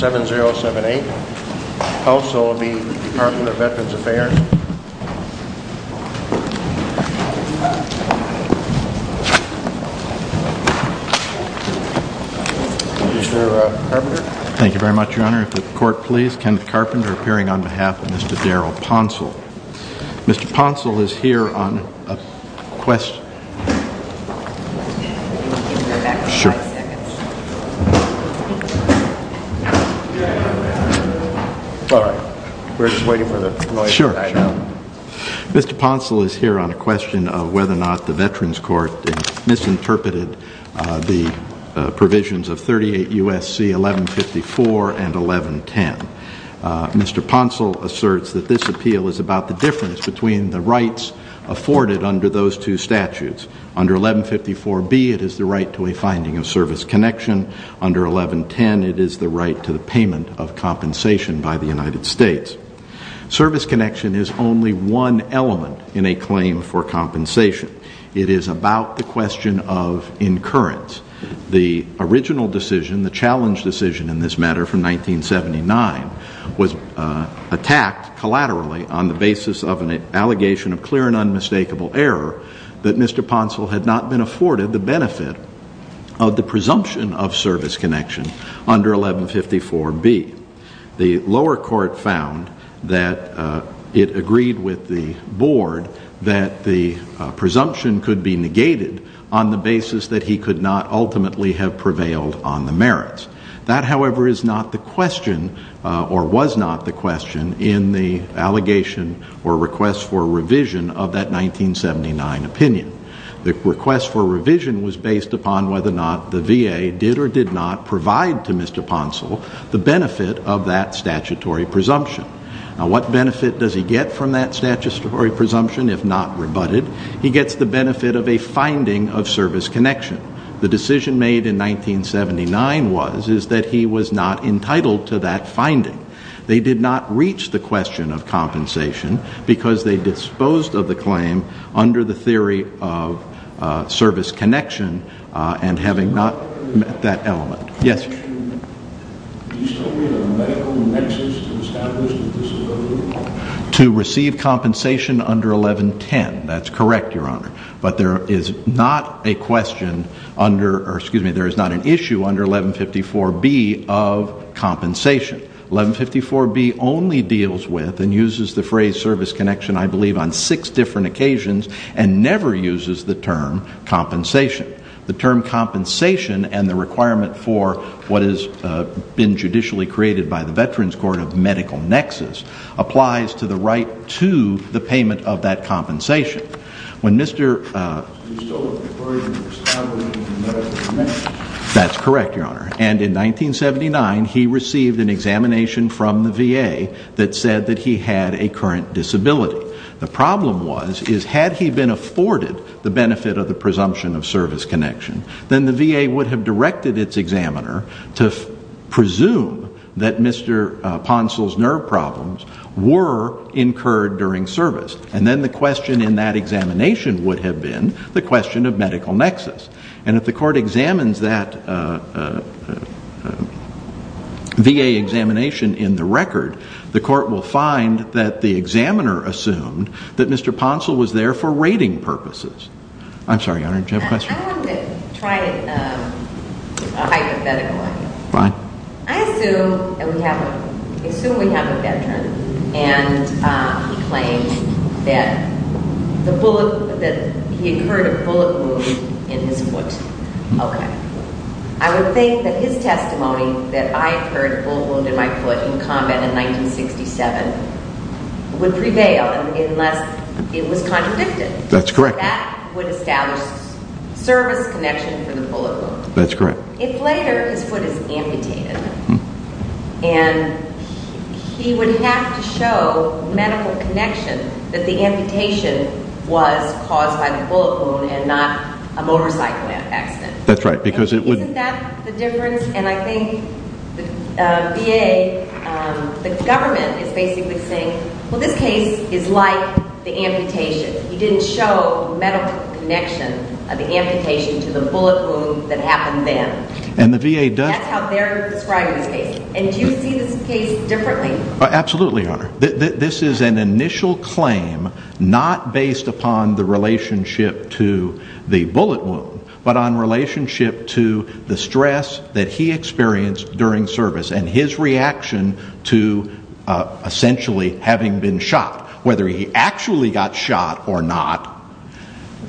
7-0-7-8. Also will be the Department of Veterans Affairs. Mr. Carpenter. Thank you very much, Your Honor. If the court please, Kenneth Carpenter appearing on behalf of Mr. Daryl Pouncil. Mr. Pouncil is here on a quest... Sure. All right. We're just waiting for the noise to die down. Mr. Pouncil is here on a question of whether or not the Veterans Court misinterpreted the provisions of 38 U.S.C. 1154 and 1110. Mr. Pouncil asserts that this appeal is about the difference between the rights afforded under those two statutes. Under 1154B it is the right to a finding of service connection. Under 1110 it is the right to the payment of compensation by the United States. Service connection is only one element in a claim for compensation. It is about the question of incurrence. The original decision, the challenge decision in this matter from 1979, was attacked collaterally on the basis of an allegation of clear and unmistakable error that Mr. Pouncil had not been afforded the benefit of the presumption of service connection under 1154B. The lower court found that it agreed with the board that the presumption could be negated on the basis that he could not ultimately have prevailed on the merits. That, however, is not the question or was not the question in the allegation or request for revision of that 1979 opinion. The request for revision was based upon whether or not the VA did or did not provide to Mr. Pouncil the benefit of that statutory presumption. Now, what benefit does he get from that statutory presumption if not rebutted? He gets the benefit of a finding of service connection. The decision made in 1979 was that he was not entitled to that finding. They did not reach the question of compensation because they disposed of the claim under the theory of service connection and having not met that element. Yes? Can you tell me the medical nexus to establish the disability? To receive compensation under 1110. That's correct, Your Honor. But there is not a question under, or excuse me, there is not an issue under 1154B of compensation. 1154B only deals with and uses the phrase service connection, I believe, on six different occasions and never uses the term compensation. The term compensation and the requirement for what has been judicially created by the Veterans Court of medical nexus applies to the right to the payment of that compensation. When Mr. You still look forward to establishing the medical nexus. That's correct, Your Honor. And in 1979, he received an examination from the VA that said that he had a current disability. The problem was, is had he been afforded the benefit of the presumption of service connection, then the VA would have directed its examiner to presume that Mr. Poncel's nerve problems were incurred during service. And then the question in that examination would have been the question of medical nexus. And if the court examines that VA examination in the record, the court will find that the examiner assumed that Mr. Poncel was there for rating purposes. I'm sorry, Your Honor, did you have a question? I wanted to try a hypothetical one. Fine. I assume we have a veteran, and he claims that he incurred a bullet wound in his foot. Okay. I would think that his testimony that I incurred a bullet wound in my foot in combat in 1967 would prevail unless it was contradicted. That's correct. That would establish service connection for the bullet wound. That's correct. If later his foot is amputated and he would have to show medical connection that the amputation was caused by the bullet wound and not a motorcycle accident. That's right. Isn't that the difference? And I think the VA, the government is basically saying, well, this case is like the amputation. He didn't show medical connection of the amputation to the bullet wound that happened then. And the VA does. That's how they're describing this case. And do you see this case differently? Absolutely, Your Honor. This is an initial claim not based upon the relationship to the bullet wound, but on relationship to the stress that he experienced during service and his reaction to essentially having been shot, whether he actually got shot or not,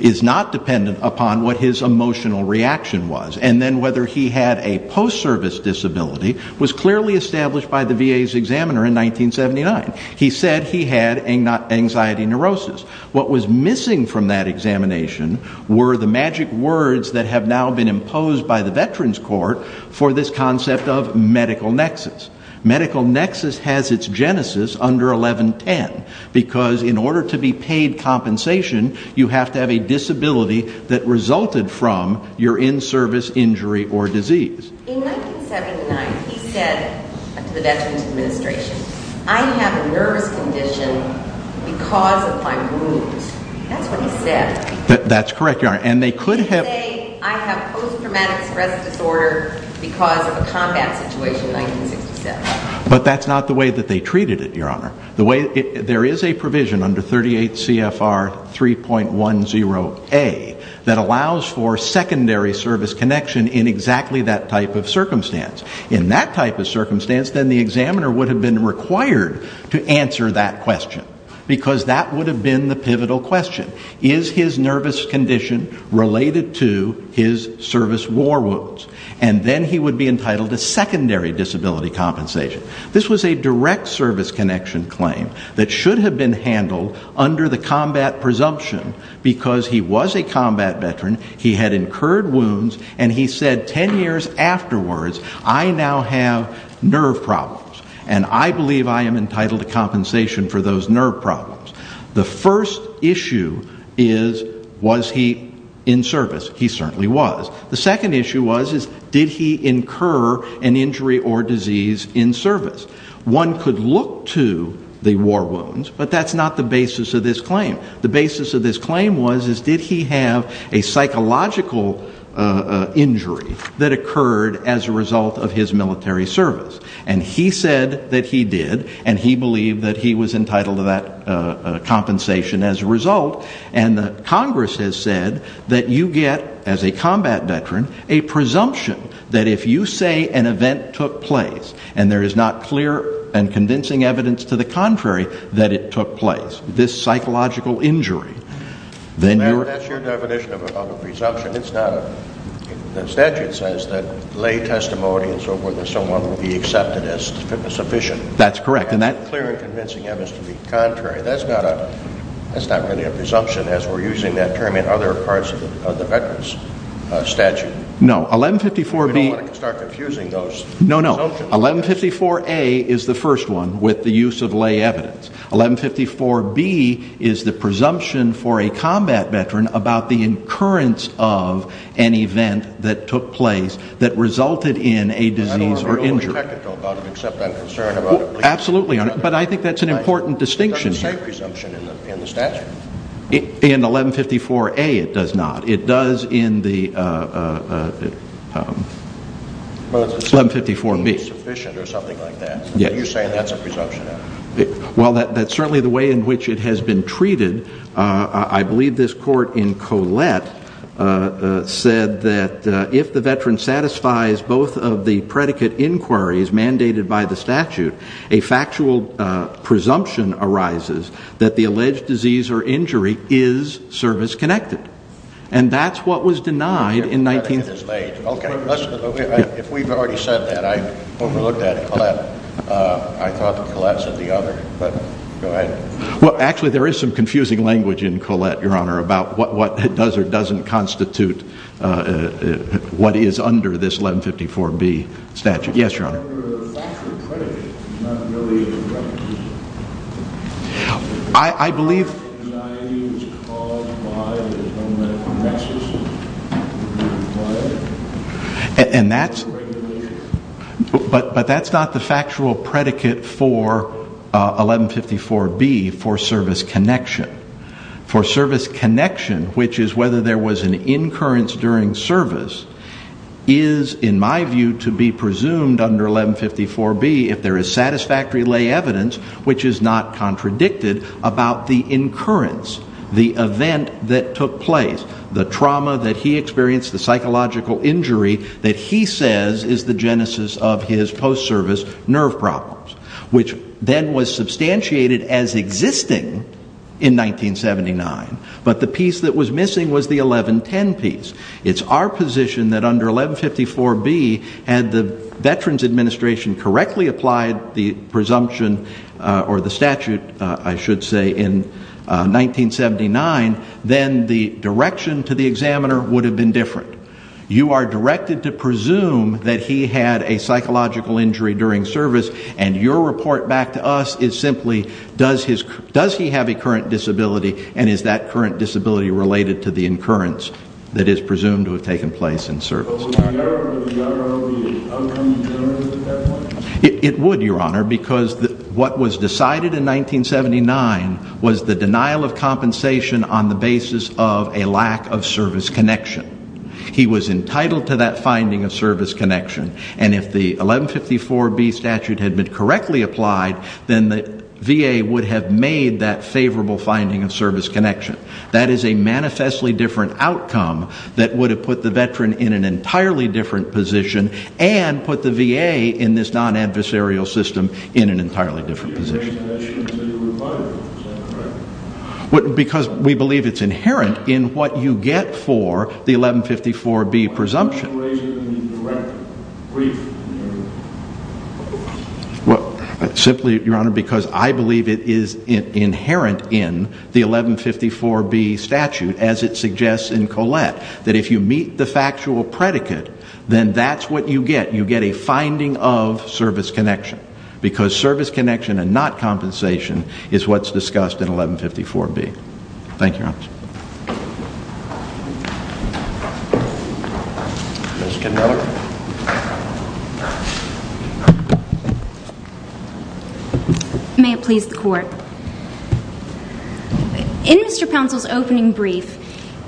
is not dependent upon what his emotional reaction was. And then whether he had a post-service disability was clearly established by the VA's examiner in 1979. He said he had anxiety neurosis. What was missing from that examination were the magic words that have now been imposed by the Veterans Court for this concept of medical nexus. Medical nexus has its genesis under 1110, because in order to be paid compensation, you have to have a disability that resulted from your in-service injury or disease. In 1979, he said to the Veterans Administration, I have a nervous condition because of my wounds. That's what he said. That's correct, Your Honor. He didn't say, I have post-traumatic stress disorder because of a combat situation in 1967. But that's not the way that they treated it, Your Honor. There is a provision under 38 CFR 3.10a that allows for secondary service connection in exactly that type of circumstance. In that type of circumstance, then the examiner would have been required to answer that question, because that would have been the pivotal question. Is his nervous condition related to his service war wounds? And then he would be entitled to secondary disability compensation. This was a direct service connection claim that should have been handled under the combat presumption. Because he was a combat veteran, he had incurred wounds, and he said ten years afterwards, I now have nerve problems. And I believe I am entitled to compensation for those nerve problems. The first issue is, was he in service? He certainly was. The second issue was, did he incur an injury or disease in service? One could look to the war wounds, but that's not the basis of this claim. The basis of this claim was, did he have a psychological injury that occurred as a result of his military service? And he said that he did, and he believed that he was entitled to that compensation as a result. And Congress has said that you get, as a combat veteran, a presumption that if you say an event took place and there is not clear and convincing evidence to the contrary that it took place, this psychological injury, then you're- That's your definition of a presumption. It's not a- the statute says that lay testimony and so forth of someone will be accepted as fitness efficient. That's correct, and that- Clear and convincing evidence to the contrary. That's not a- that's not really a presumption as we're using that term in other parts of the veterans statute. No, 1154B- We don't want to start confusing those presumptions. No, no. 1154A is the first one with the use of lay evidence. 1154B is the presumption for a combat veteran about the incurrence of an event that took place that resulted in a disease or injury. I don't have anything technical about it except I'm concerned about- Absolutely, but I think that's an important distinction here. It doesn't say presumption in the statute. In 1154A it does not. It does in the- Well, it's- 1154B. It's sufficient or something like that. Yes. You're saying that's a presumption. Well, that's certainly the way in which it has been treated. I believe this court in Collette said that if the veteran satisfies both of the predicate inquiries mandated by the statute, a factual presumption arises that the alleged disease or injury is service-connected, and that's what was denied in 19- If we've already said that, I overlooked that in Collette. I thought that Collette said the other, but go ahead. Well, actually there is some confusing language in Collette, Your Honor, about what does or doesn't constitute what is under this 1154B statute. Yes, Your Honor. It's under a factual predicate, not really a predicate. I believe- I.e. it was caused by the government of Texas. And that's- The regulations. But that's not the factual predicate for 1154B for service connection. For service connection, which is whether there was an incurrence during service, is, in my view, to be presumed under 1154B, if there is satisfactory lay evidence which is not contradicted about the incurrence, the event that took place, the trauma that he experienced, the psychological injury that he says is the genesis of his post-service nerve problems, which then was substantiated as existing in 1979. But the piece that was missing was the 1110 piece. It's our position that under 1154B, had the Veterans Administration correctly applied the presumption or the statute, I should say, in 1979, then the direction to the examiner would have been different. You are directed to presume that he had a psychological injury during service, and your report back to us is simply, does he have a current disability, and is that current disability related to the incurrence that is presumed to have taken place in service? But would the outcome generally be different? It would, Your Honor, because what was decided in 1979 was the denial of compensation on the basis of a lack of service connection. He was entitled to that finding of service connection, and if the 1154B statute had been correctly applied, then the VA would have made that favorable finding of service connection. That is a manifestly different outcome that would have put the veteran in an entirely different position and put the VA in this non-adversarial system in an entirely different position. Because we believe it's inherent in what you get for the 1154B presumption. Simply, Your Honor, because I believe it is inherent in the 1154B statute, as it suggests in Collette, that if you meet the factual predicate, then that's what you get. You get a finding of service connection. Because service connection and not compensation is what's discussed in 1154B. Thank you, Your Honor. May it please the Court. In Mr. Pouncil's opening brief,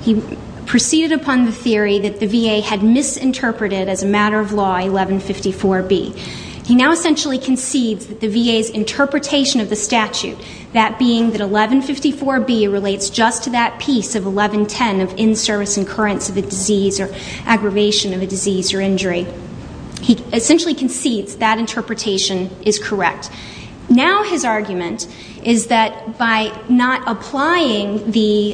he proceeded upon the theory that the VA had misinterpreted as a matter of law 1154B. He now essentially concedes that the VA's interpretation of the statute, that being that 1154B relates just to that piece of 1110 of in-service incurrence of a disease or aggravation of a disease or injury. He essentially concedes that interpretation is correct. Now his argument is that by not applying the,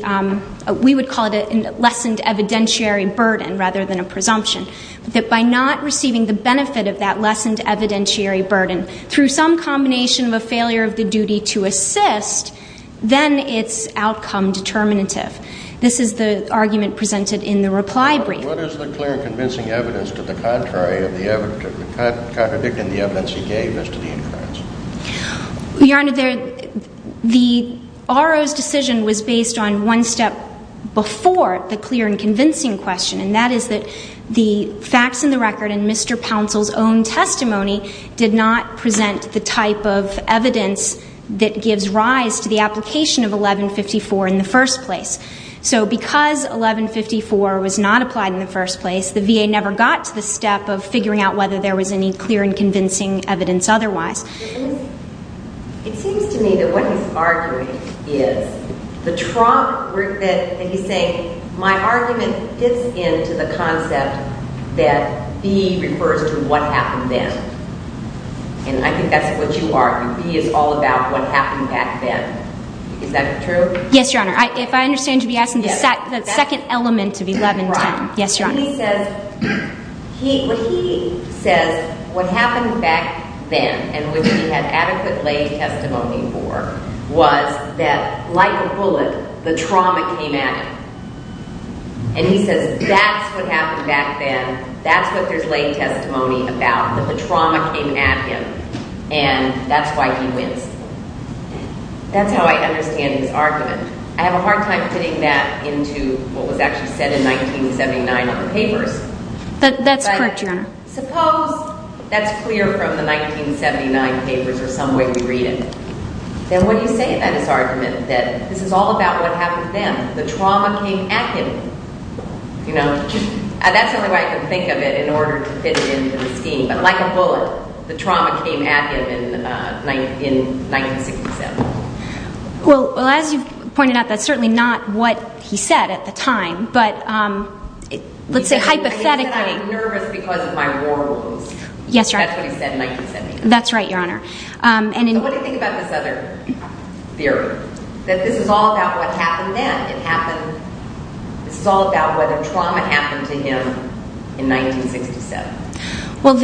we would call it a lessened evidentiary burden rather than a presumption, that by not receiving the benefit of that lessened evidentiary burden through some combination of a failure of the duty to assist, then it's outcome determinative. This is the argument presented in the reply brief. Your Honor, what is the clear and convincing evidence to the contrary of the evidence, contradicting the evidence he gave as to the incurrence? Your Honor, the RO's decision was based on one step before the clear and convincing question, and that is that the facts in the record and Mr. Pouncil's own testimony did not present the type of evidence that gives rise to the application of 1154 in the first place. So because 1154 was not applied in the first place, the VA never got to the step of figuring out whether there was any clear and convincing evidence otherwise. It seems to me that what he's arguing is the trunk, that he's saying, my argument fits into the concept that B refers to what happened then. And I think that's what you are. B is all about what happened back then. Is that true? Yes, Your Honor. If I understand, you'll be asking the second element of 1110. Yes, Your Honor. He says what happened back then and which he had adequate lay testimony for was that, like a bullet, the trauma came at him. And he says that's what happened back then. That's what there's lay testimony about, that the trauma came at him, and that's why he wins. That's how I understand his argument. I have a hard time fitting that into what was actually said in 1979 in the papers. That's correct, Your Honor. But suppose that's clear from the 1979 papers or some way we read it. Then what do you say about his argument that this is all about what happened then? The trauma came at him. You know, that's the only way I can think of it in order to fit it into the scheme. But like a bullet, the trauma came at him in 1967. Well, as you pointed out, that's certainly not what he said at the time, but let's say hypothetically. He said, I'm nervous because of my war wounds. That's what he said in 1979. That's right, Your Honor. So what do you think about this other theory, that this is all about what happened then? This is all about whether trauma happened to him in 1967? Well,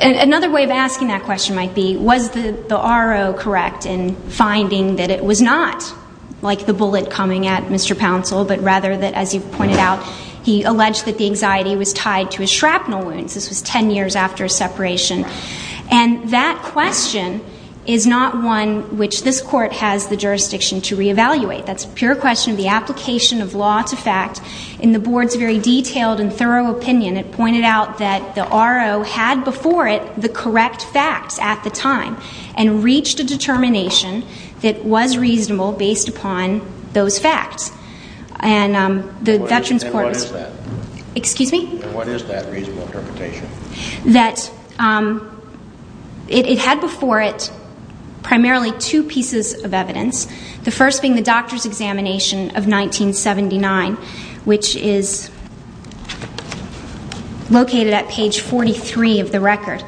another way of asking that question might be, was the RO correct in finding that it was not like the bullet coming at Mr. Pouncil, but rather that, as you pointed out, he alleged that the anxiety was tied to his shrapnel wounds. This was ten years after his separation. And that question is not one which this Court has the jurisdiction to reevaluate. That's a pure question of the application of law to fact. In the Board's very detailed and thorough opinion, it pointed out that the RO had before it the correct facts at the time and reached a determination that was reasonable based upon those facts. And the Veterans Court is – And what is that? Excuse me? And what is that reasonable interpretation? That it had before it primarily two pieces of evidence, the first being the doctor's examination of 1979, which is located at page 43 of the record.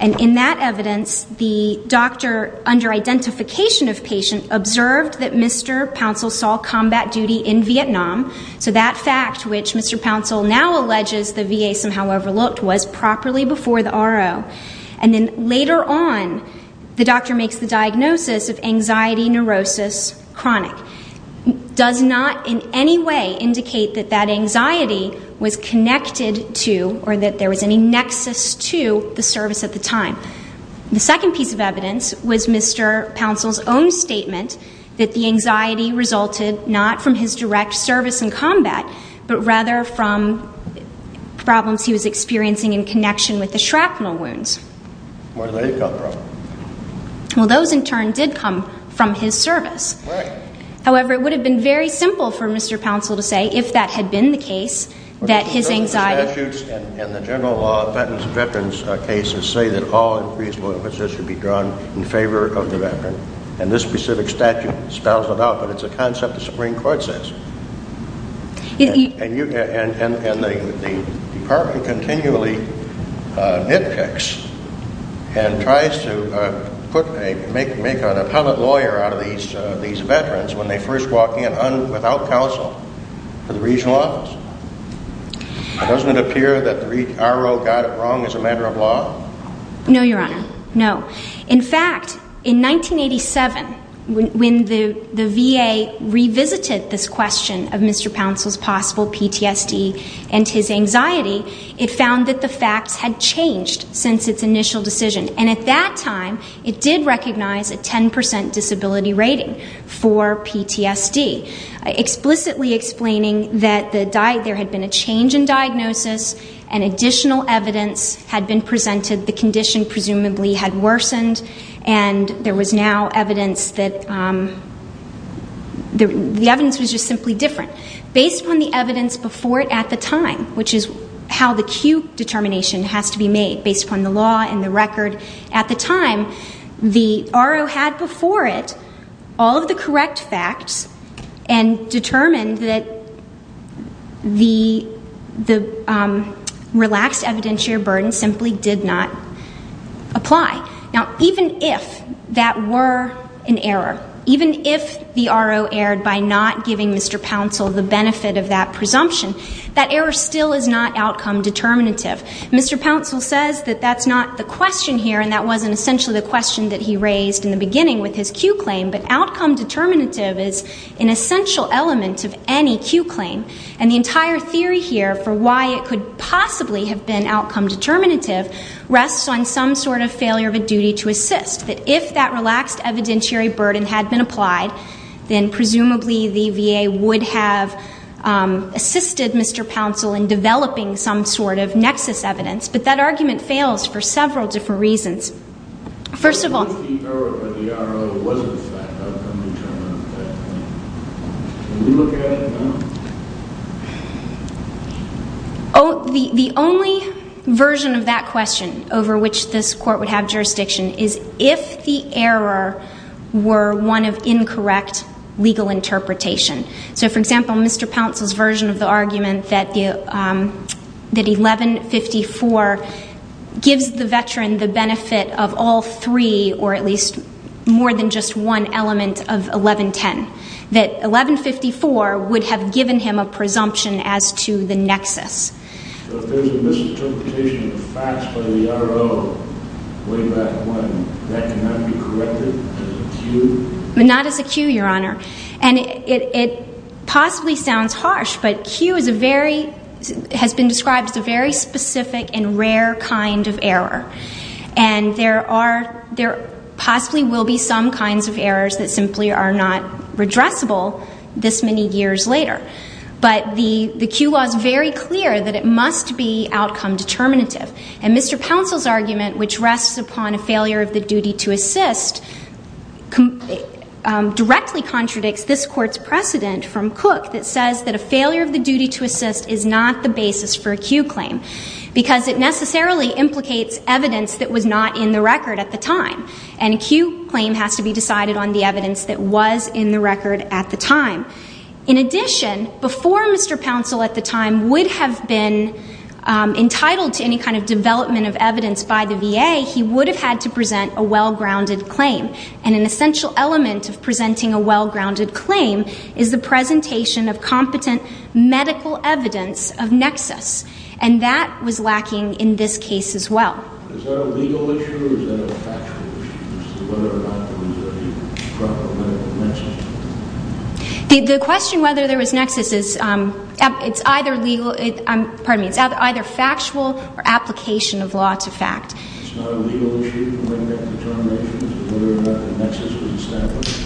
And in that evidence, the doctor, under identification of patient, observed that Mr. Pouncil saw combat duty in Vietnam. So that fact, which Mr. Pouncil now alleges the VA somehow overlooked, was properly before the RO. And then later on, the doctor makes the diagnosis of anxiety, neurosis, chronic. Does not in any way indicate that that anxiety was connected to or that there was any nexus to the service at the time. The second piece of evidence was Mr. Pouncil's own statement that the anxiety resulted not from his direct service in combat, but rather from problems he was experiencing in connection with the shrapnel wounds. Where did they come from? Well, those, in turn, did come from his service. Right. However, it would have been very simple for Mr. Pouncil to say, if that had been the case, that his anxiety – The statute and the general law of veterans' cases say that all increased loyalties should be drawn in favor of the veteran. And this specific statute spells it out, but it's a concept the Supreme Court says. And the department continually nitpicks and tries to make an appellate lawyer out of these veterans when they first walk in without counsel for the regional office. Doesn't it appear that the RO got it wrong as a matter of law? No, Your Honor. No. In fact, in 1987, when the VA revisited this question of Mr. Pouncil's possible PTSD and his anxiety, it found that the facts had changed since its initial decision. And at that time, it did recognize a 10% disability rating for PTSD, explicitly explaining that there had been a change in diagnosis and additional evidence had been presented, the condition presumably had worsened, and there was now evidence that – the evidence was just simply different. Based upon the evidence before it at the time, which is how the acute determination has to be made, based upon the law and the record at the time, the RO had before it all of the correct facts and determined that the relaxed evidentiary burden simply did not apply. Now, even if that were an error, even if the RO erred by not giving Mr. Pouncil the benefit of that presumption, that error still is not outcome determinative. Mr. Pouncil says that that's not the question here, and that wasn't essentially the question that he raised in the beginning with his Q claim, but outcome determinative is an essential element of any Q claim. And the entire theory here for why it could possibly have been outcome determinative rests on some sort of failure of a duty to assist, that if that relaxed evidentiary burden had been applied, then presumably the VA would have assisted Mr. Pouncil in developing some sort of nexus evidence. But that argument fails for several different reasons. First of all... The only version of that question over which this Court would have jurisdiction is if the error were one of incorrect legal interpretation. So, for example, Mr. Pouncil's version of the argument that 1154 gives the veteran the benefit of all three, or at least more than just one element of 1110, that 1154 would have given him a presumption as to the nexus. So if there's a misinterpretation of the facts by the RO way back when, that cannot be corrected as a Q? Not as a Q, Your Honor. And it possibly sounds harsh, but Q has been described as a very specific and rare kind of error. And there possibly will be some kinds of errors that simply are not redressable this many years later. But the Q law is very clear that it must be outcome determinative. And Mr. Pouncil's argument, which rests upon a failure of the duty to assist, directly contradicts this Court's precedent from Cook that says that a failure of the duty to assist is not the basis for a Q claim because it necessarily implicates evidence that was not in the record at the time. And a Q claim has to be decided on the evidence that was in the record at the time. In addition, before Mr. Pouncil at the time would have been entitled to any kind of development of evidence by the VA, he would have had to present a well-grounded claim. And an essential element of presenting a well-grounded claim is the presentation of competent medical evidence of nexus. And that was lacking in this case as well. Is that a legal issue or is that a factual issue, as to whether or not there was any problem with nexus? The question whether there was nexus is either factual or application of law to fact. It's not a legal issue to bring back determinations as to whether or not the nexus was established?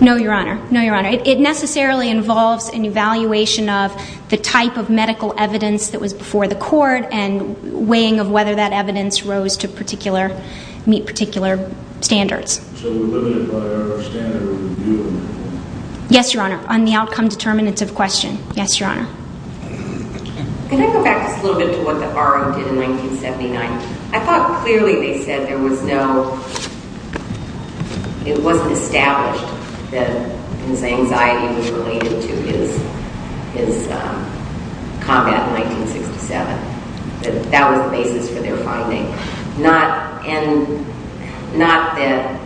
No, Your Honor. No, Your Honor. It necessarily involves an evaluation of the type of medical evidence that was before the court and weighing of whether that evidence rose to meet particular standards. So we're limited by our standard review? Yes, Your Honor, on the outcome determinants of question. Yes, Your Honor. Can I go back just a little bit to what the RO did in 1979? I thought clearly they said there was no... it wasn't established that his anxiety was related to his combat in 1967. That that was the basis for their finding. Not that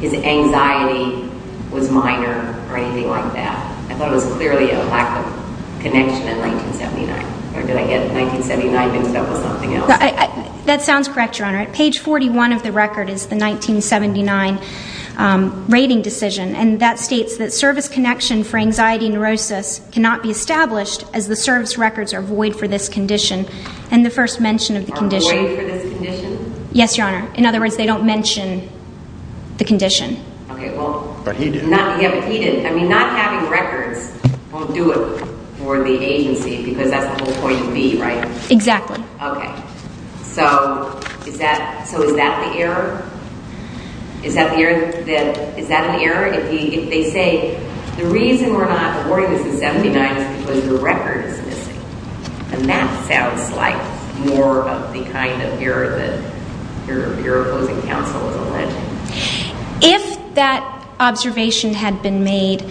his anxiety was minor or anything like that. I thought it was clearly a lack of connection in 1979. Or did I get 1979 mixed up with something else? That sounds correct, Your Honor. Page 41 of the record is the 1979 rating decision, and that states that service connection for anxiety and neurosis cannot be established as the service records are void for this condition and the first mention of the condition. Are void for this condition? Yes, Your Honor. In other words, they don't mention the condition. Okay, well... But he did. Yeah, but he did. I mean, not having records won't do it for the agency because that's the whole point of me, right? Exactly. Okay. So is that the error? Is that an error? If they say the reason we're not awarding this in 1979 is because your record is missing, then that sounds like more of the kind of error that your opposing counsel is alleging. If that observation had been made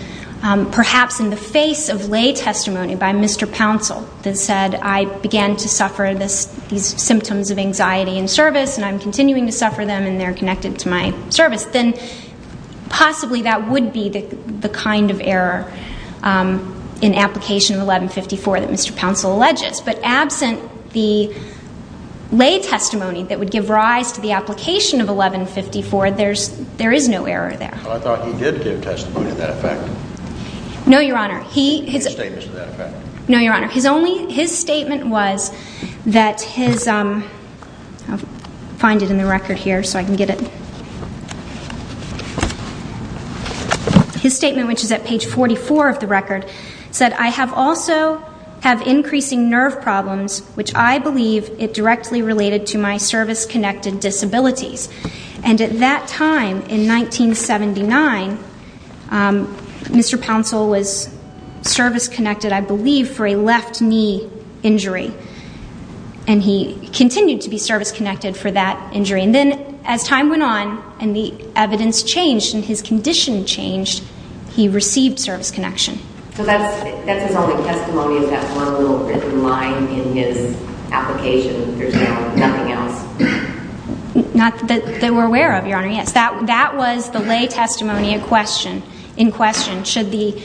perhaps in the face of lay testimony by Mr. Pouncil that said I began to suffer these symptoms of anxiety in service and I'm continuing to suffer them and they're connected to my service, then possibly that would be the kind of error in application of 1154 that Mr. Pouncil alleges. But absent the lay testimony that would give rise to the application of 1154, there is no error there. Well, I thought he did give testimony to that effect. No, Your Honor. His statements to that effect. No, Your Honor. His statement was that his... I'll find it in the record here so I can get it. His statement, which is at page 44 of the record, said, I have also had increasing nerve problems, which I believe it directly related to my service-connected disabilities. And at that time in 1979, Mr. Pouncil was service-connected, I believe, for a left knee injury. And he continued to be service-connected for that injury. And then as time went on and the evidence changed and his condition changed, he received service connection. So that's his only testimony of that one little written line in his application. There's nothing else? Not that we're aware of, Your Honor, yes. That was the lay testimony in question, should the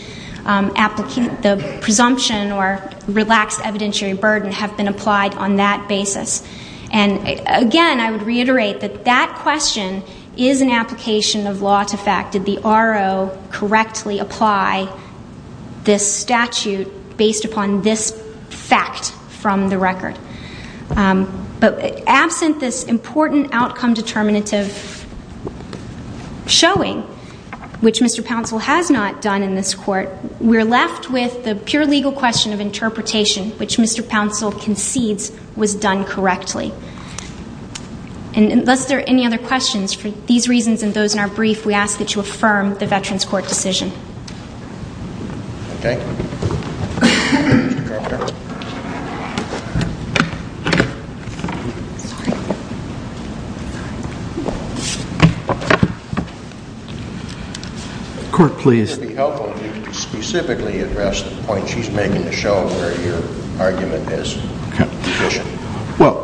presumption or relaxed evidentiary burden have been applied on that basis. And, again, I would reiterate that that question is an application of law to fact. Did the RO correctly apply this statute based upon this fact from the record? But absent this important outcome determinative showing, which Mr. Pouncil has not done in this court, we're left with the pure legal question of interpretation, which Mr. Pouncil concedes was done correctly. And unless there are any other questions, for these reasons and those in our brief, we ask that you affirm the Veterans Court decision. Okay. Court, please. It would be helpful if you could specifically address the point she's making to show where your argument is deficient. Well,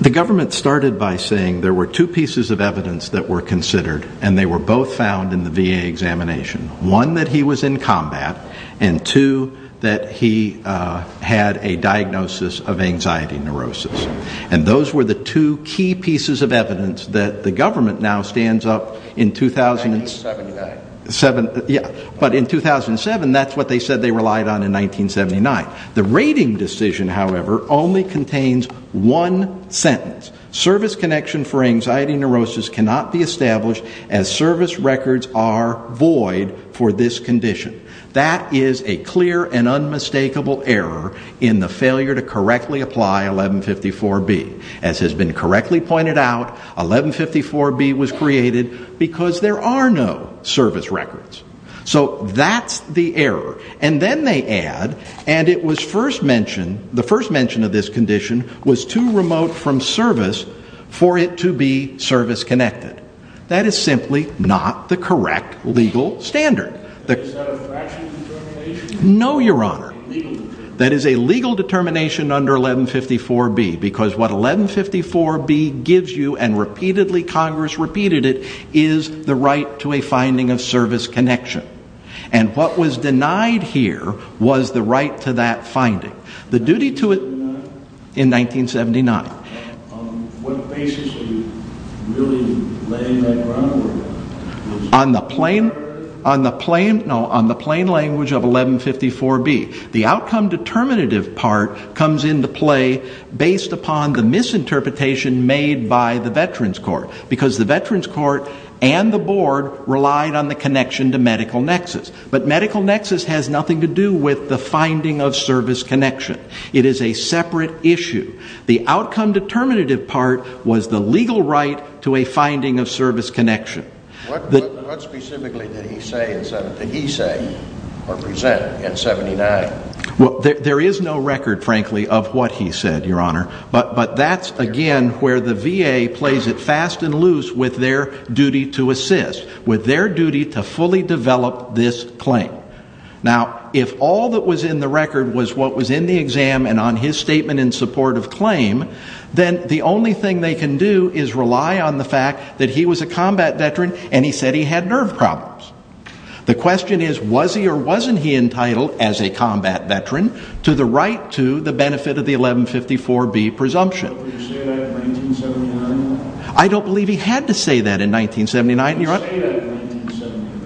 the government started by saying there were two pieces of evidence that were considered, and they were both found in the VA examination. One, that he was in combat, and two, that he had a diagnosis of anxiety neurosis. And those were the two key pieces of evidence that the government now stands up in 2007. But in 2007, that's what they said they relied on in 1979. The rating decision, however, only contains one sentence. Service connection for anxiety neurosis cannot be established as service records are void for this condition. That is a clear and unmistakable error in the failure to correctly apply 1154B. As has been correctly pointed out, 1154B was created because there are no service records. So that's the error. And then they add, and it was first mentioned, the first mention of this condition was too remote from service for it to be service connected. That is simply not the correct legal standard. Is that a fractional determination? No, Your Honor. Legal determination. That is a legal determination under 1154B, because what 1154B gives you, and repeatedly Congress repeated it, is the right to a finding of service connection. And what was denied here was the right to that finding. The duty to it in 1979. On what basis were you really laying that groundwork? On the plain language of 1154B. The outcome determinative part comes into play based upon the misinterpretation made by the Veterans Court, because the Veterans Court and the Board relied on the connection to medical nexus. But medical nexus has nothing to do with the finding of service connection. It is a separate issue. The outcome determinative part was the legal right to a finding of service connection. What specifically did he say or present in 1979? There is no record, frankly, of what he said, Your Honor. But that's, again, where the VA plays it fast and loose with their duty to assist, with their duty to fully develop this claim. Now, if all that was in the record was what was in the exam and on his statement in support of claim, then the only thing they can do is rely on the fact that he was a combat veteran and he said he had nerve problems. The question is, was he or wasn't he entitled as a combat veteran to the right to the benefit of the 1154B presumption? Did he say that in 1979? I don't believe he had to say that in 1979.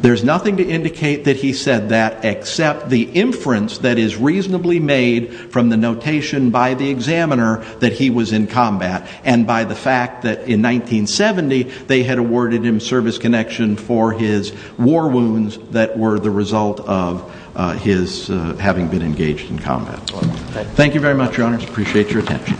There's nothing to indicate that he said that except the inference that is reasonably made from the notation by the examiner that he was in combat and by the fact that in 1970 they had awarded him service connection for his war wounds that were the result of his having been engaged in combat. Thank you very much, Your Honors. Appreciate your attention.